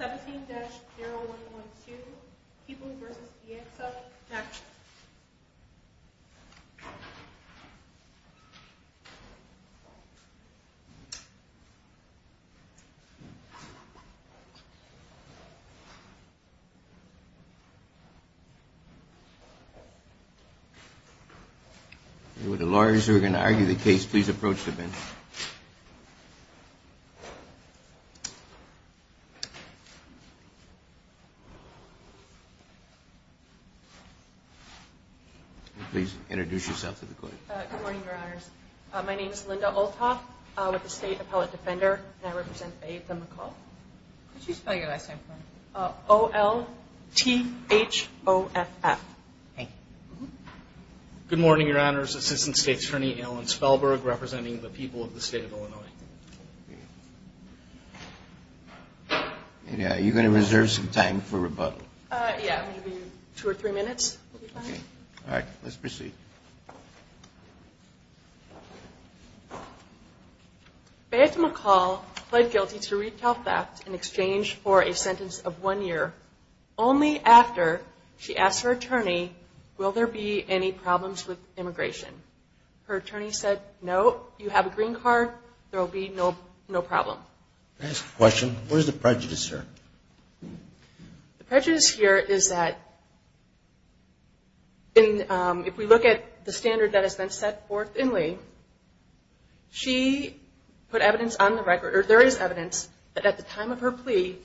17-0112. People versus the accept. Next With the lawyers who are going to argue the case, please approach the bench. Please introduce yourself to the court. Good morning, Your Honors. My name is Linda Olthoff, with the State Appellate Defender, and I represent Faith v. Makal. Could you spell your last name for me? O-L-T-H-O-F-F. Thank you. Good morning, Your Honors. Assistant State Attorney Alan Spellberg, representing the people of the State of Illinois. Are you going to reserve some time for rebuttal? Yeah, maybe two or three minutes would be fine. All right, let's proceed. Faith Makal pled guilty to retail theft in exchange for a sentence of one year, only after she asked her attorney, will there be any problems with immigration? Her attorney said, no, you have a green card, there will be no problem. Can I ask a question? What is the prejudice here? The prejudice here is that if we look at the standard that has been set for Thinley, she put evidence on the record, or there is evidence, that at the time of her plea,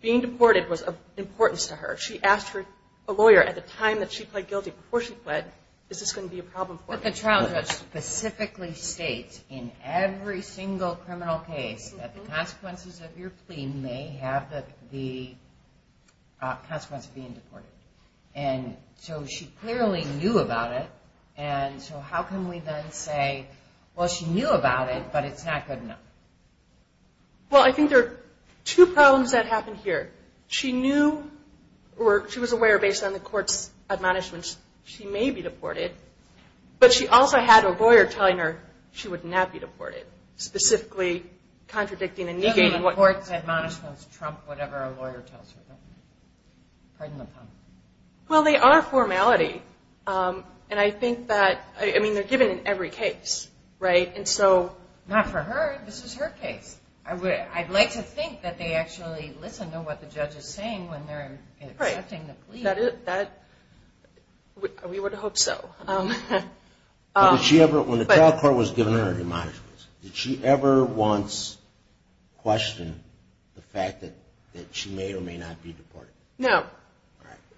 being deported was of importance to her. She asked her lawyer at the time that she pled guilty, before she pled, is this going to be a problem for her? But the trial judge specifically states in every single criminal case that the consequences of your plea may have the consequences of being deported. And so she clearly knew about it, and so how can we then say, well, she knew about it, but it's not good enough? Well, I think there are two problems that happened here. She knew, or she was aware, based on the court's admonishments, she may be deported, but she also had a lawyer telling her she would not be deported, specifically contradicting and negating what court's admonishments trump whatever a lawyer tells her. Pardon the pun. Well, they are formality, and I think that, I mean, they're given in every case, right? And so... Not for her. This is her case. I'd like to think that they actually listen to what the judge is saying when they're accepting the plea. Right. We would hope so. When the trial court was giving her admonishments, did she ever once question the fact that she may or may not be deported? No.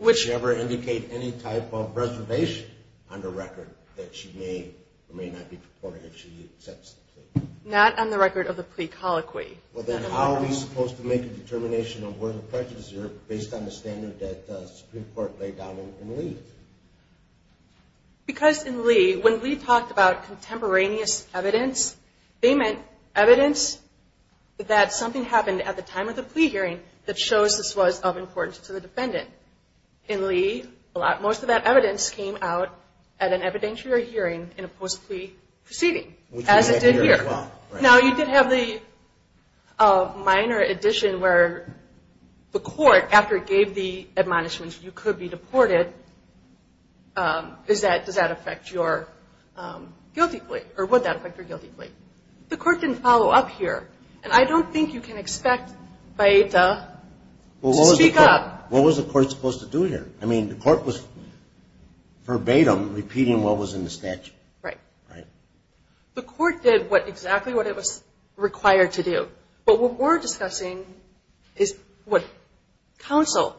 Did she ever indicate any type of reservation on the record that she may or may not be deported if she accepts the plea? Not on the record of the plea colloquy. Well, then how are we supposed to make a determination of where the prejudice is based on the standard that the Supreme Court laid down in Lee? Because in Lee, when Lee talked about contemporaneous evidence, they meant evidence that something happened at the time of the plea hearing that shows this was of importance to the defendant. In Lee, most of that evidence came out at an evidentiary hearing in a post-plea proceeding, as it did here. Now, you did have the minor addition where the court, after it gave the admonishments, you could be deported. Does that affect your guilty plea? Or would that affect your guilty plea? The court didn't follow up here. And I don't think you can expect Baeta to speak up. Well, what was the court supposed to do here? I mean, the court was verbatim repeating what was in the statute. Right. The court did exactly what it was required to do. But what we're discussing is what counsel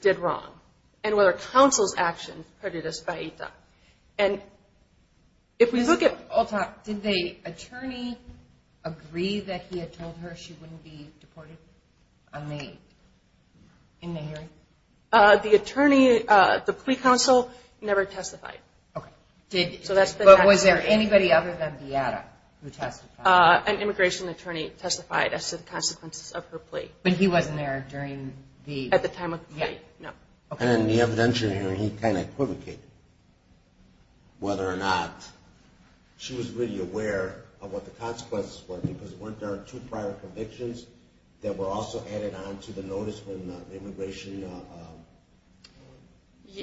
did wrong and whether counsel's actions predated Baeta. And if we look at… Did the attorney agree that he had told her she wouldn't be deported in the hearing? The attorney, the plea counsel, never testified. Okay. But was there anybody other than Baeta who testified? An immigration attorney testified as to the consequences of her plea. But he wasn't there during the… At the time of the plea. Yeah. No. And in the evidentiary hearing, he kind of equivocated whether or not she was really aware of what the consequences were because weren't there two prior convictions that were also added on to the notice when the immigration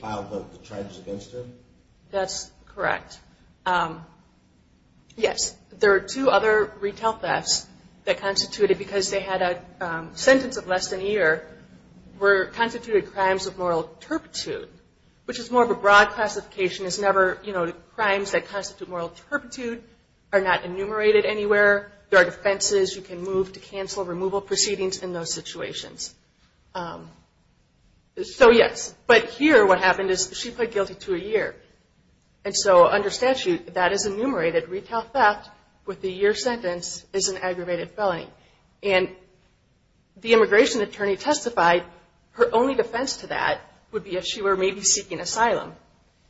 filed the charges against her? That's correct. Yes. There are two other retail thefts that constituted, because they had a sentence of less than a year, were constituted crimes of moral turpitude, which is more of a broad classification. It's never, you know, crimes that constitute moral turpitude are not enumerated anywhere. There are defenses you can move to cancel removal proceedings in those situations. So, yes. But here, what happened is she pled guilty to a year. And so, under statute, that is enumerated. Retail theft with a year sentence is an aggravated felony. And the immigration attorney testified her only defense to that would be if she were maybe seeking asylum.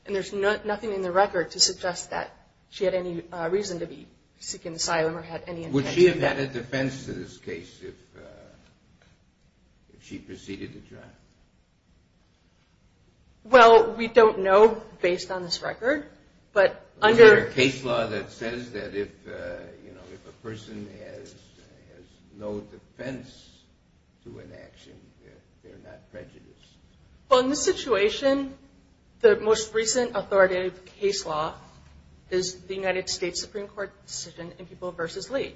And there's nothing in the record to suggest that she had any reason to be seeking asylum or had any intent to do that. Would she have had a defense to this case if she proceeded to try? Well, we don't know based on this record, but under – Is there a case law that says that if, you know, if a person has no defense to an action, they're not prejudiced? Well, in this situation, the most recent authoritative case law is the United States Supreme Court decision in People v. Lee,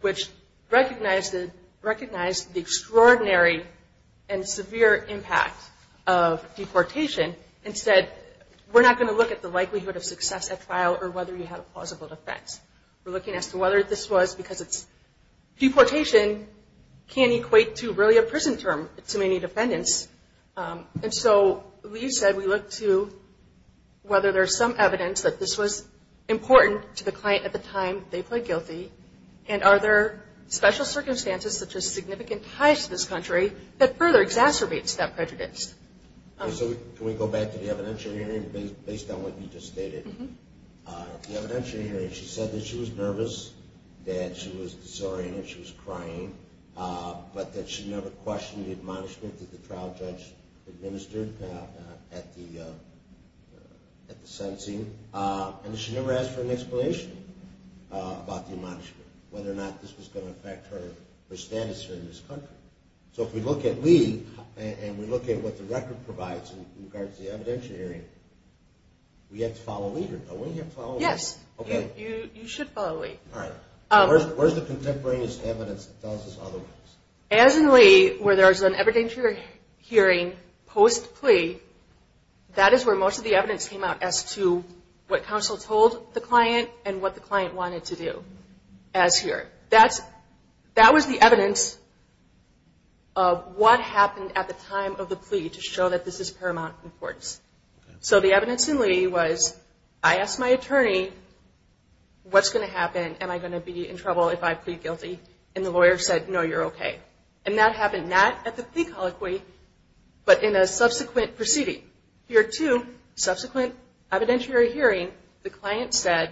which recognized the extraordinary and severe impact of deportation and said, we're not going to look at the likelihood of success at trial or whether you have a plausible defense. We're looking as to whether this was because it's – to really a prison term to many defendants. And so, Lee said we look to whether there's some evidence that this was important to the client at the time they pled guilty. And are there special circumstances such as significant ties to this country that further exacerbates that prejudice? So, can we go back to the evidentiary hearing based on what you just stated? The evidentiary hearing, she said that she was nervous, that she was disoriented, she was crying. But that she never questioned the admonishment that the trial judge administered at the sentencing. And that she never asked for an explanation about the admonishment, whether or not this was going to affect her status here in this country. So, if we look at Lee and we look at what the record provides in regards to the evidentiary hearing, we have to follow Lee or don't we have to follow Lee? Yes, you should follow Lee. All right. Where's the contemporaneous evidence that tells us otherwise? As in Lee, where there's an evidentiary hearing post-plea, that is where most of the evidence came out as to what counsel told the client and what the client wanted to do as here. That was the evidence of what happened at the time of the plea to show that this is paramount importance. So, the evidence in Lee was, I asked my attorney, what's going to happen? Am I going to be in trouble if I plead guilty? And the lawyer said, no, you're okay. And that happened not at the plea colloquy, but in a subsequent proceeding. Here too, subsequent evidentiary hearing, the client said,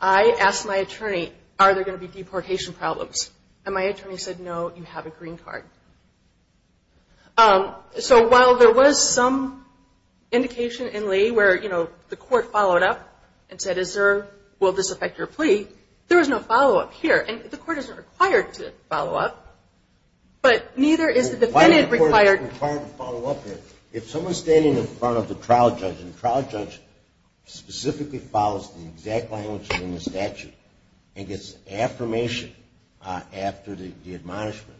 I asked my attorney, are there going to be deportation problems? And my attorney said, no, you have a green card. So, while there was some indication in Lee where, you know, the court followed up and said, is there, will this affect your plea, there was no follow-up here. And the court isn't required to follow up, but neither is the defendant required to follow up here. If someone's standing in front of the trial judge, and the trial judge specifically follows the exact language in the statute and gets affirmation after the admonishment,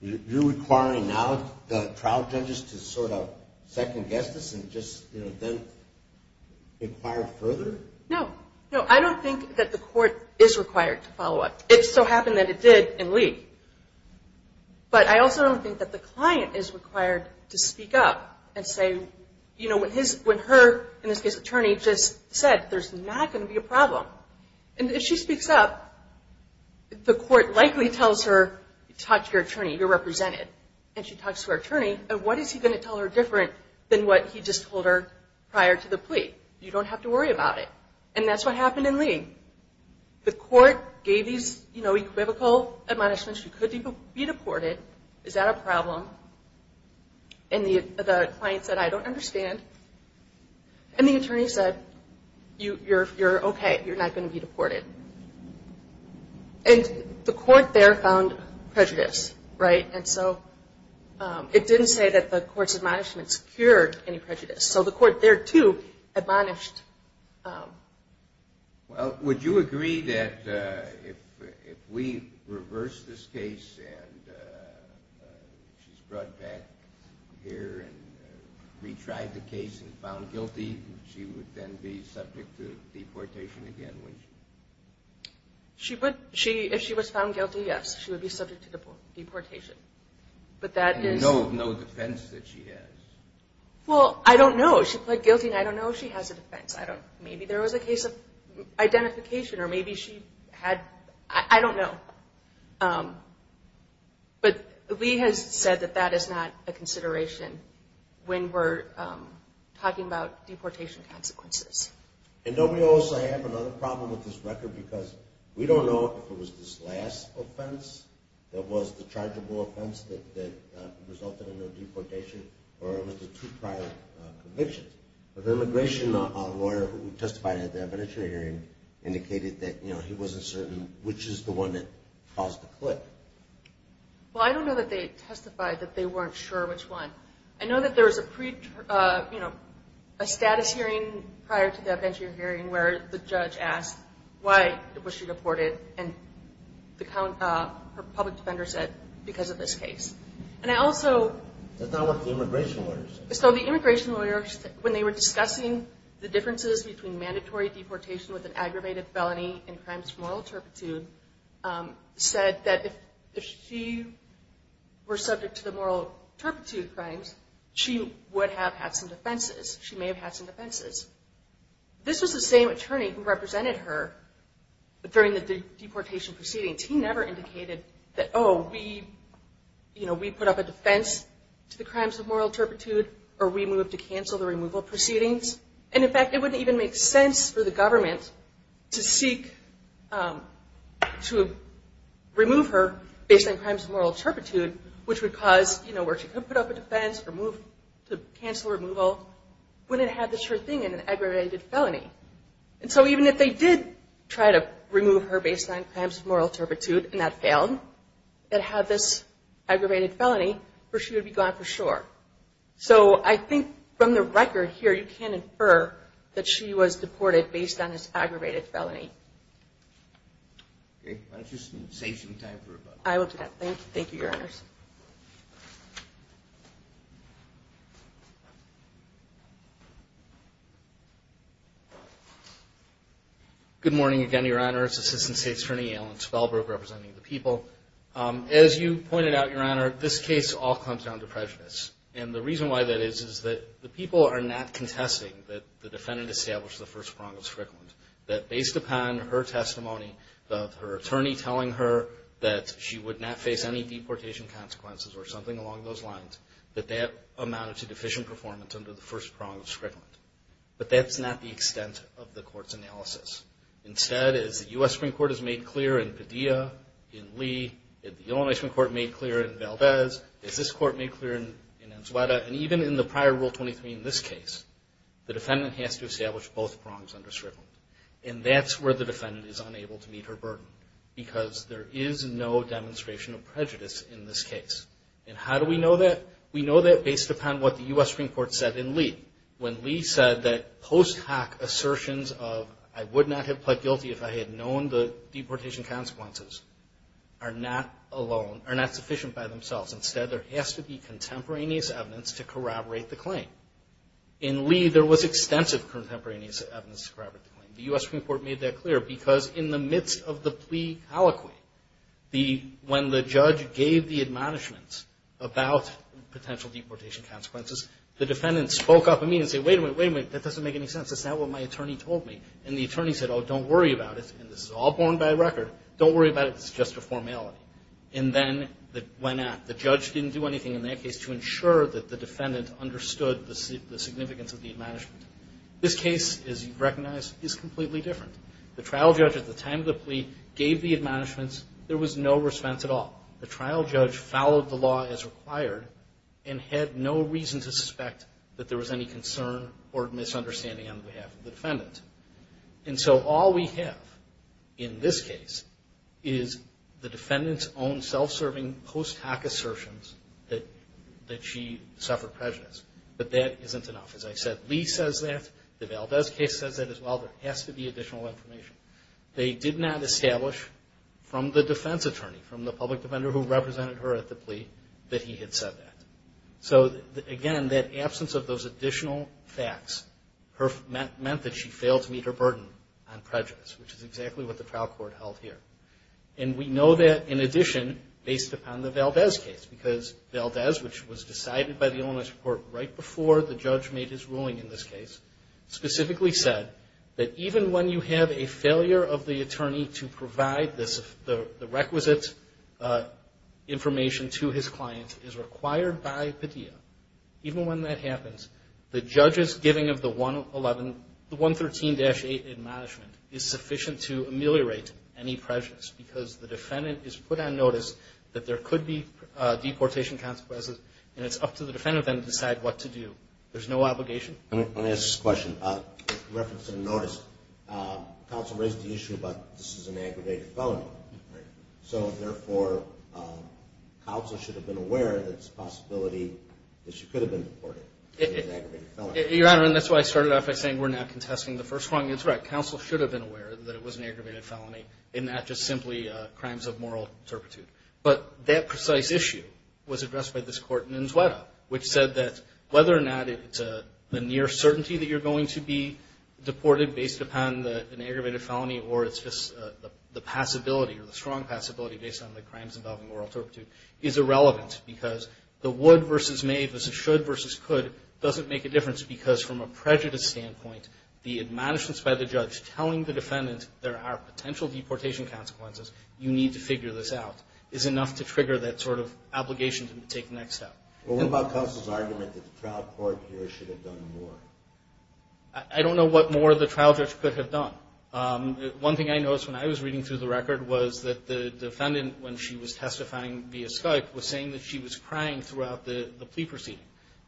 you're requiring now the trial judges to sort of second-guess this and just, you know, then inquire further? No. No, I don't think that the court is required to follow up. It so happened that it did in Lee. But I also don't think that the client is required to speak up and say, you know, when her, in this case, attorney just said, there's not going to be a problem. And if she speaks up, the court likely tells her, talk to your attorney, you're represented. And she talks to her attorney, and what is he going to tell her different than what he just told her prior to the plea? You don't have to worry about it. And that's what happened in Lee. The court gave these, you know, equivocal admonishments, you could be deported, is that a problem? And the client said, I don't understand. And the attorney said, you're okay, you're not going to be deported. And the court there found prejudice, right? And so it didn't say that the court's admonishments cured any prejudice. So the court there, too, admonished. Well, would you agree that if we reverse this case and she's brought back here and retried the case and found guilty, she would then be subject to deportation again, wouldn't she? She would. If she was found guilty, yes, she would be subject to deportation. But that is no defense that she has. Well, I don't know. She pled guilty, and I don't know if she has a defense. Maybe there was a case of identification, or maybe she had – I don't know. But Lee has said that that is not a consideration when we're talking about deportation consequences. And don't we also have another problem with this record? Because we don't know if it was this last offense that was the chargeable offense that resulted in her deportation, or it was the two prior convictions. The immigration lawyer who testified at the adventurer hearing indicated that, you know, he wasn't certain which is the one that caused the clip. Well, I don't know that they testified that they weren't sure which one. I know that there was a status hearing prior to the adventurer hearing where the judge asked why was she deported, and her public defender said, because of this case. And I also – That's not what the immigration lawyer said. So the immigration lawyer, when they were discussing the differences between mandatory deportation with an aggravated felony and crimes of moral turpitude, said that if she were subject to the moral turpitude crimes, she would have had some defenses. She may have had some defenses. This was the same attorney who represented her during the deportation proceedings. He never indicated that, oh, we, you know, we put up a defense to the crimes of moral turpitude, or we move to cancel the removal proceedings. And, in fact, it wouldn't even make sense for the government to seek to remove her based on crimes of moral turpitude, which would cause, you know, where she could put up a defense or move to cancel removal, when it had this thing in an aggravated felony. And so even if they did try to remove her based on crimes of moral turpitude and that failed, that had this aggravated felony, she would be gone for sure. So I think from the record here, you can infer that she was deported based on this aggravated felony. Okay. Why don't you save some time for rebuttal. I will do that. Thank you, Your Honors. Good morning again, Your Honors. Assistant State's Attorney, Alan Spellberg, representing the people. As you pointed out, Your Honor, this case all comes down to prejudice. And the reason why that is is that the people are not contesting that the defendant established the First Prong of Strickland, that based upon her testimony, her attorney telling her that she would not face any deportation charges, or something along those lines, that that amounted to deficient performance under the First Prong of Strickland. But that's not the extent of the Court's analysis. Instead, as the U.S. Supreme Court has made clear in Padilla, in Lee, as the Illinois Supreme Court made clear in Valdez, as this Court made clear in Enzueta, and even in the prior Rule 23 in this case, the defendant has to establish both prongs under Strickland. And that's where the defendant is unable to meet her burden, because there is no demonstration of prejudice in this case. And how do we know that? We know that based upon what the U.S. Supreme Court said in Lee. When Lee said that post hoc assertions of, I would not have pled guilty if I had known the deportation consequences, are not sufficient by themselves. Instead, there has to be contemporaneous evidence to corroborate the claim. In Lee, there was extensive contemporaneous evidence to corroborate the claim. The U.S. Supreme Court made that clear, because in the midst of the plea colloquy, when the judge gave the admonishments about potential deportation consequences, the defendant spoke up immediately and said, wait a minute, wait a minute, that doesn't make any sense. That's not what my attorney told me. And the attorney said, oh, don't worry about it. And this is all borne by record. Don't worry about it. It's just a formality. And then it went out. The judge didn't do anything in that case to ensure that the defendant understood the significance of the admonishment. This case, as you recognize, is completely different. The trial judge, at the time of the plea, gave the admonishments. There was no response at all. The trial judge followed the law as required and had no reason to suspect that there was any concern or misunderstanding on behalf of the defendant. And so all we have in this case is the defendant's own self-serving post hoc assertions that she suffered prejudice. But that isn't enough. As I said, Lee says that. The Valdez case says that as well. There has to be additional information. They did not establish from the defense attorney, from the public defender who represented her at the plea, that he had said that. So, again, that absence of those additional facts meant that she failed to meet her burden on prejudice, which is exactly what the trial court held here. And we know that, in addition, based upon the Valdez case, because Valdez, which was decided by the Olmstead court right before the judge made his ruling in this case, specifically said that even when you have a failure of the attorney to provide the requisite information to his client, it is required by Padilla, even when that happens, the judge's giving of the 113-8 admonishment is sufficient to ameliorate any prejudice because the defendant is put on notice that there could be deportation consequences, and it's up to the defendant then to decide what to do. There's no obligation. Let me ask this question. In reference to the notice, counsel raised the issue about this is an aggravated felony. So, therefore, counsel should have been aware that it's a possibility that she could have been deported. Your Honor, and that's why I started off by saying we're not contesting the first one. That's right. That it was an aggravated felony and not just simply crimes of moral turpitude. But that precise issue was addressed by this court in Inzueta, which said that whether or not it's the near certainty that you're going to be deported based upon an aggravated felony or it's just the passability or the strong passability based on the crimes involving moral turpitude is irrelevant because the would versus may versus should versus could doesn't make a difference because from a prejudice standpoint, the admonishments by the judge telling the defendant there are potential deportation consequences, you need to figure this out, is enough to trigger that sort of obligation to take the next step. Well, what about counsel's argument that the trial court here should have done more? I don't know what more the trial judge could have done. One thing I noticed when I was reading through the record was that the defendant, when she was testifying via Skype, was saying that she was crying throughout the plea proceeding.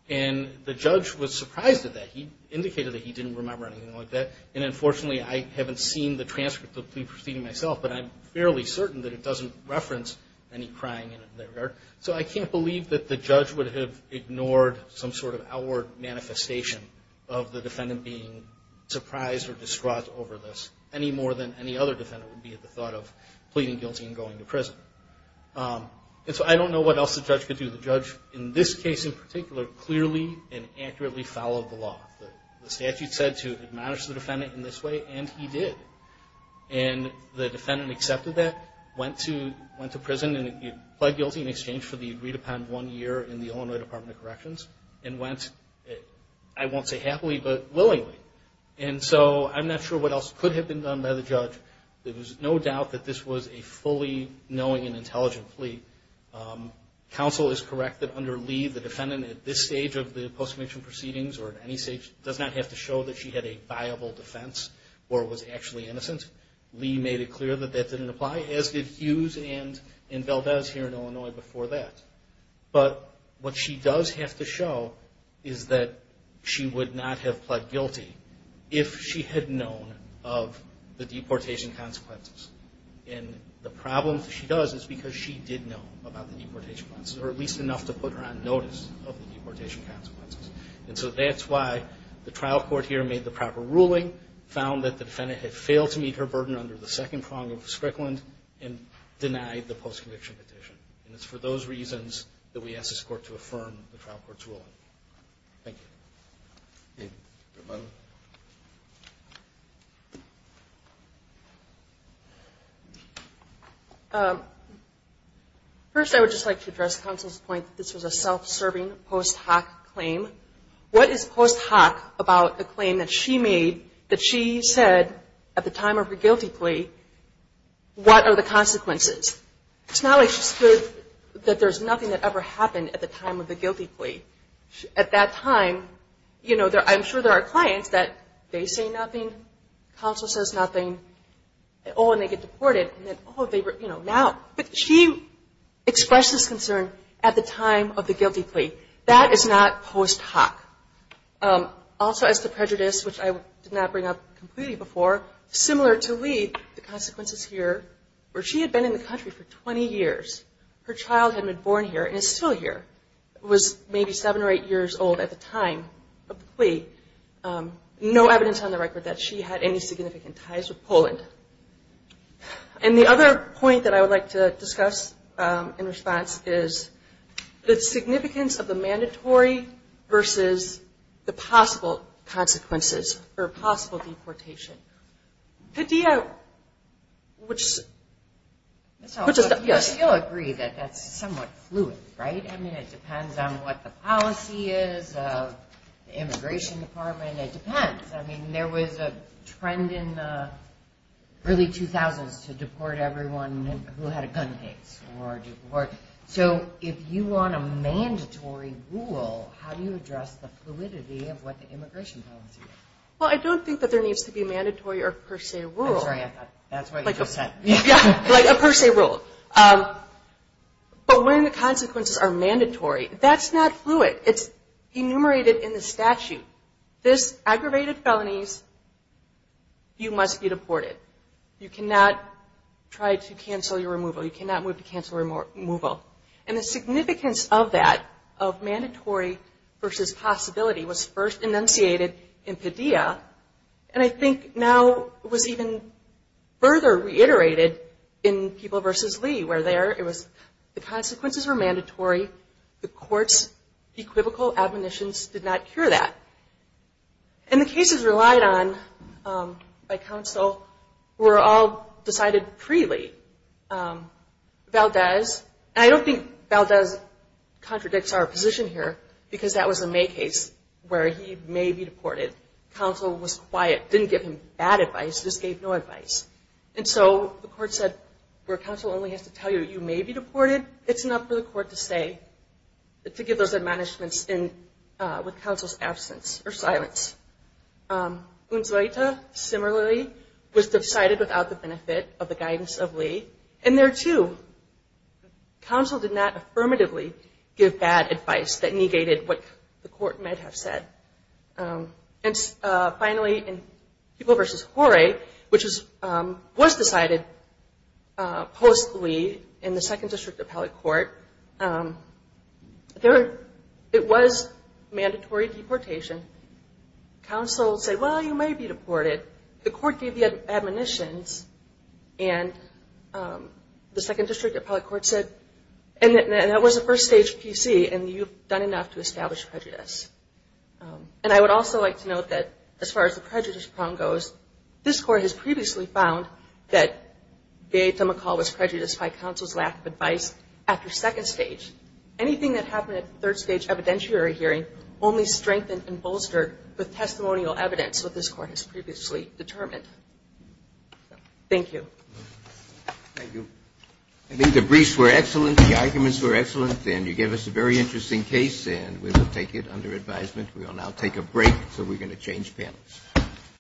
And the judge was surprised at that. He indicated that he didn't remember anything like that. And, unfortunately, I haven't seen the transcript of the plea proceeding myself, but I'm fairly certain that it doesn't reference any crying in that regard. So I can't believe that the judge would have ignored some sort of outward manifestation of the defendant being surprised or distraught over this any more than any other defendant would be at the thought of pleading guilty and going to prison. And so I don't know what else the judge could do. The judge, in this case in particular, clearly and accurately followed the law. The statute said to admonish the defendant in this way, and he did. And the defendant accepted that, went to prison, and pled guilty in exchange for the agreed-upon one year in the Illinois Department of Corrections, and went, I won't say happily, but willingly. And so I'm not sure what else could have been done by the judge. There was no doubt that this was a fully knowing and intelligent plea. Counsel is correct that under Lee, the defendant at this stage of the post-conviction proceedings, or at any stage, does not have to show that she had a viable defense or was actually innocent. Lee made it clear that that didn't apply, as did Hughes and Valdez here in Illinois before that. But what she does have to show is that she would not have pled guilty if she had known of the deportation consequences. And the problem that she does is because she did know about the deportation consequences, or at least enough to put her on notice of the deportation consequences. And so that's why the trial court here made the proper ruling, found that the defendant had failed to meet her burden under the second prong of Strickland, and denied the post-conviction petition. And it's for those reasons that we ask this court to affirm the trial court's ruling. Thank you. Thank you. First, I would just like to address counsel's point that this was a self-serving post hoc claim. What is post hoc about the claim that she made that she said at the time of her guilty plea, what are the consequences? It's not like she stood that there's nothing that ever happened at the time of the guilty plea. At that time, you know, I'm sure there are clients that they say nothing. Counsel says nothing. Oh, and they get deported. Oh, they were, you know, now. But she expressed this concern at the time of the guilty plea. That is not post hoc. Also, as to prejudice, which I did not bring up completely before, similar to Lee, the consequences here were she had been in the country for 20 years. Her child had been born here and is still here. Was maybe seven or eight years old at the time of the plea. No evidence on the record that she had any significant ties with Poland. And the other point that I would like to discuss in response is the significance of the mandatory versus the possible consequences or possible deportation. Padilla, which is... It depends on what the policy is of the Immigration Department. It depends. I mean, there was a trend in the early 2000s to deport everyone who had a gun case or deport. So if you want a mandatory rule, how do you address the fluidity of what the immigration policy is? Well, I don't think that there needs to be a mandatory or per se rule. I'm sorry. That's what you just said. Yeah, like a per se rule. But when the consequences are mandatory, that's not fluid. It's enumerated in the statute. This aggravated felonies, you must be deported. You cannot try to cancel your removal. You cannot move to cancel removal. And the significance of that, of mandatory versus possibility, was first enunciated in Padilla. And I think now it was even further reiterated in People v. Lee where there it was the consequences were mandatory. The court's equivocal admonitions did not cure that. And the cases relied on by counsel were all decided pre-Lee. Valdez, and I don't think Valdez contradicts our position here because that was a May case where he may be deported. Counsel was quiet, didn't give him bad advice, just gave no advice. And so the court said where counsel only has to tell you you may be deported, it's enough for the court to say to give those admonishments with counsel's absence or silence. Unzoita, similarly, was decided without the benefit of the guidance of Lee. And there too, counsel did not affirmatively give bad advice that negated what the court might have said. And finally, in People v. Horay, which was decided post-Lee in the Second District Appellate Court, it was mandatory deportation. Counsel said, well, you may be deported. The court gave the admonitions, and the Second District Appellate Court said, And that was a first-stage PC, and you've done enough to establish prejudice. And I would also like to note that as far as the prejudice prong goes, this Court has previously found that Gaeta McCall was prejudiced by counsel's lack of advice after second stage. Anything that happened at third-stage evidentiary hearing only strengthened and bolstered with testimonial evidence that this Court has previously determined. Thank you. Thank you. I think the briefs were excellent, the arguments were excellent, and you gave us a very interesting case, and we will take it under advisement. We will now take a break, so we're going to change panels.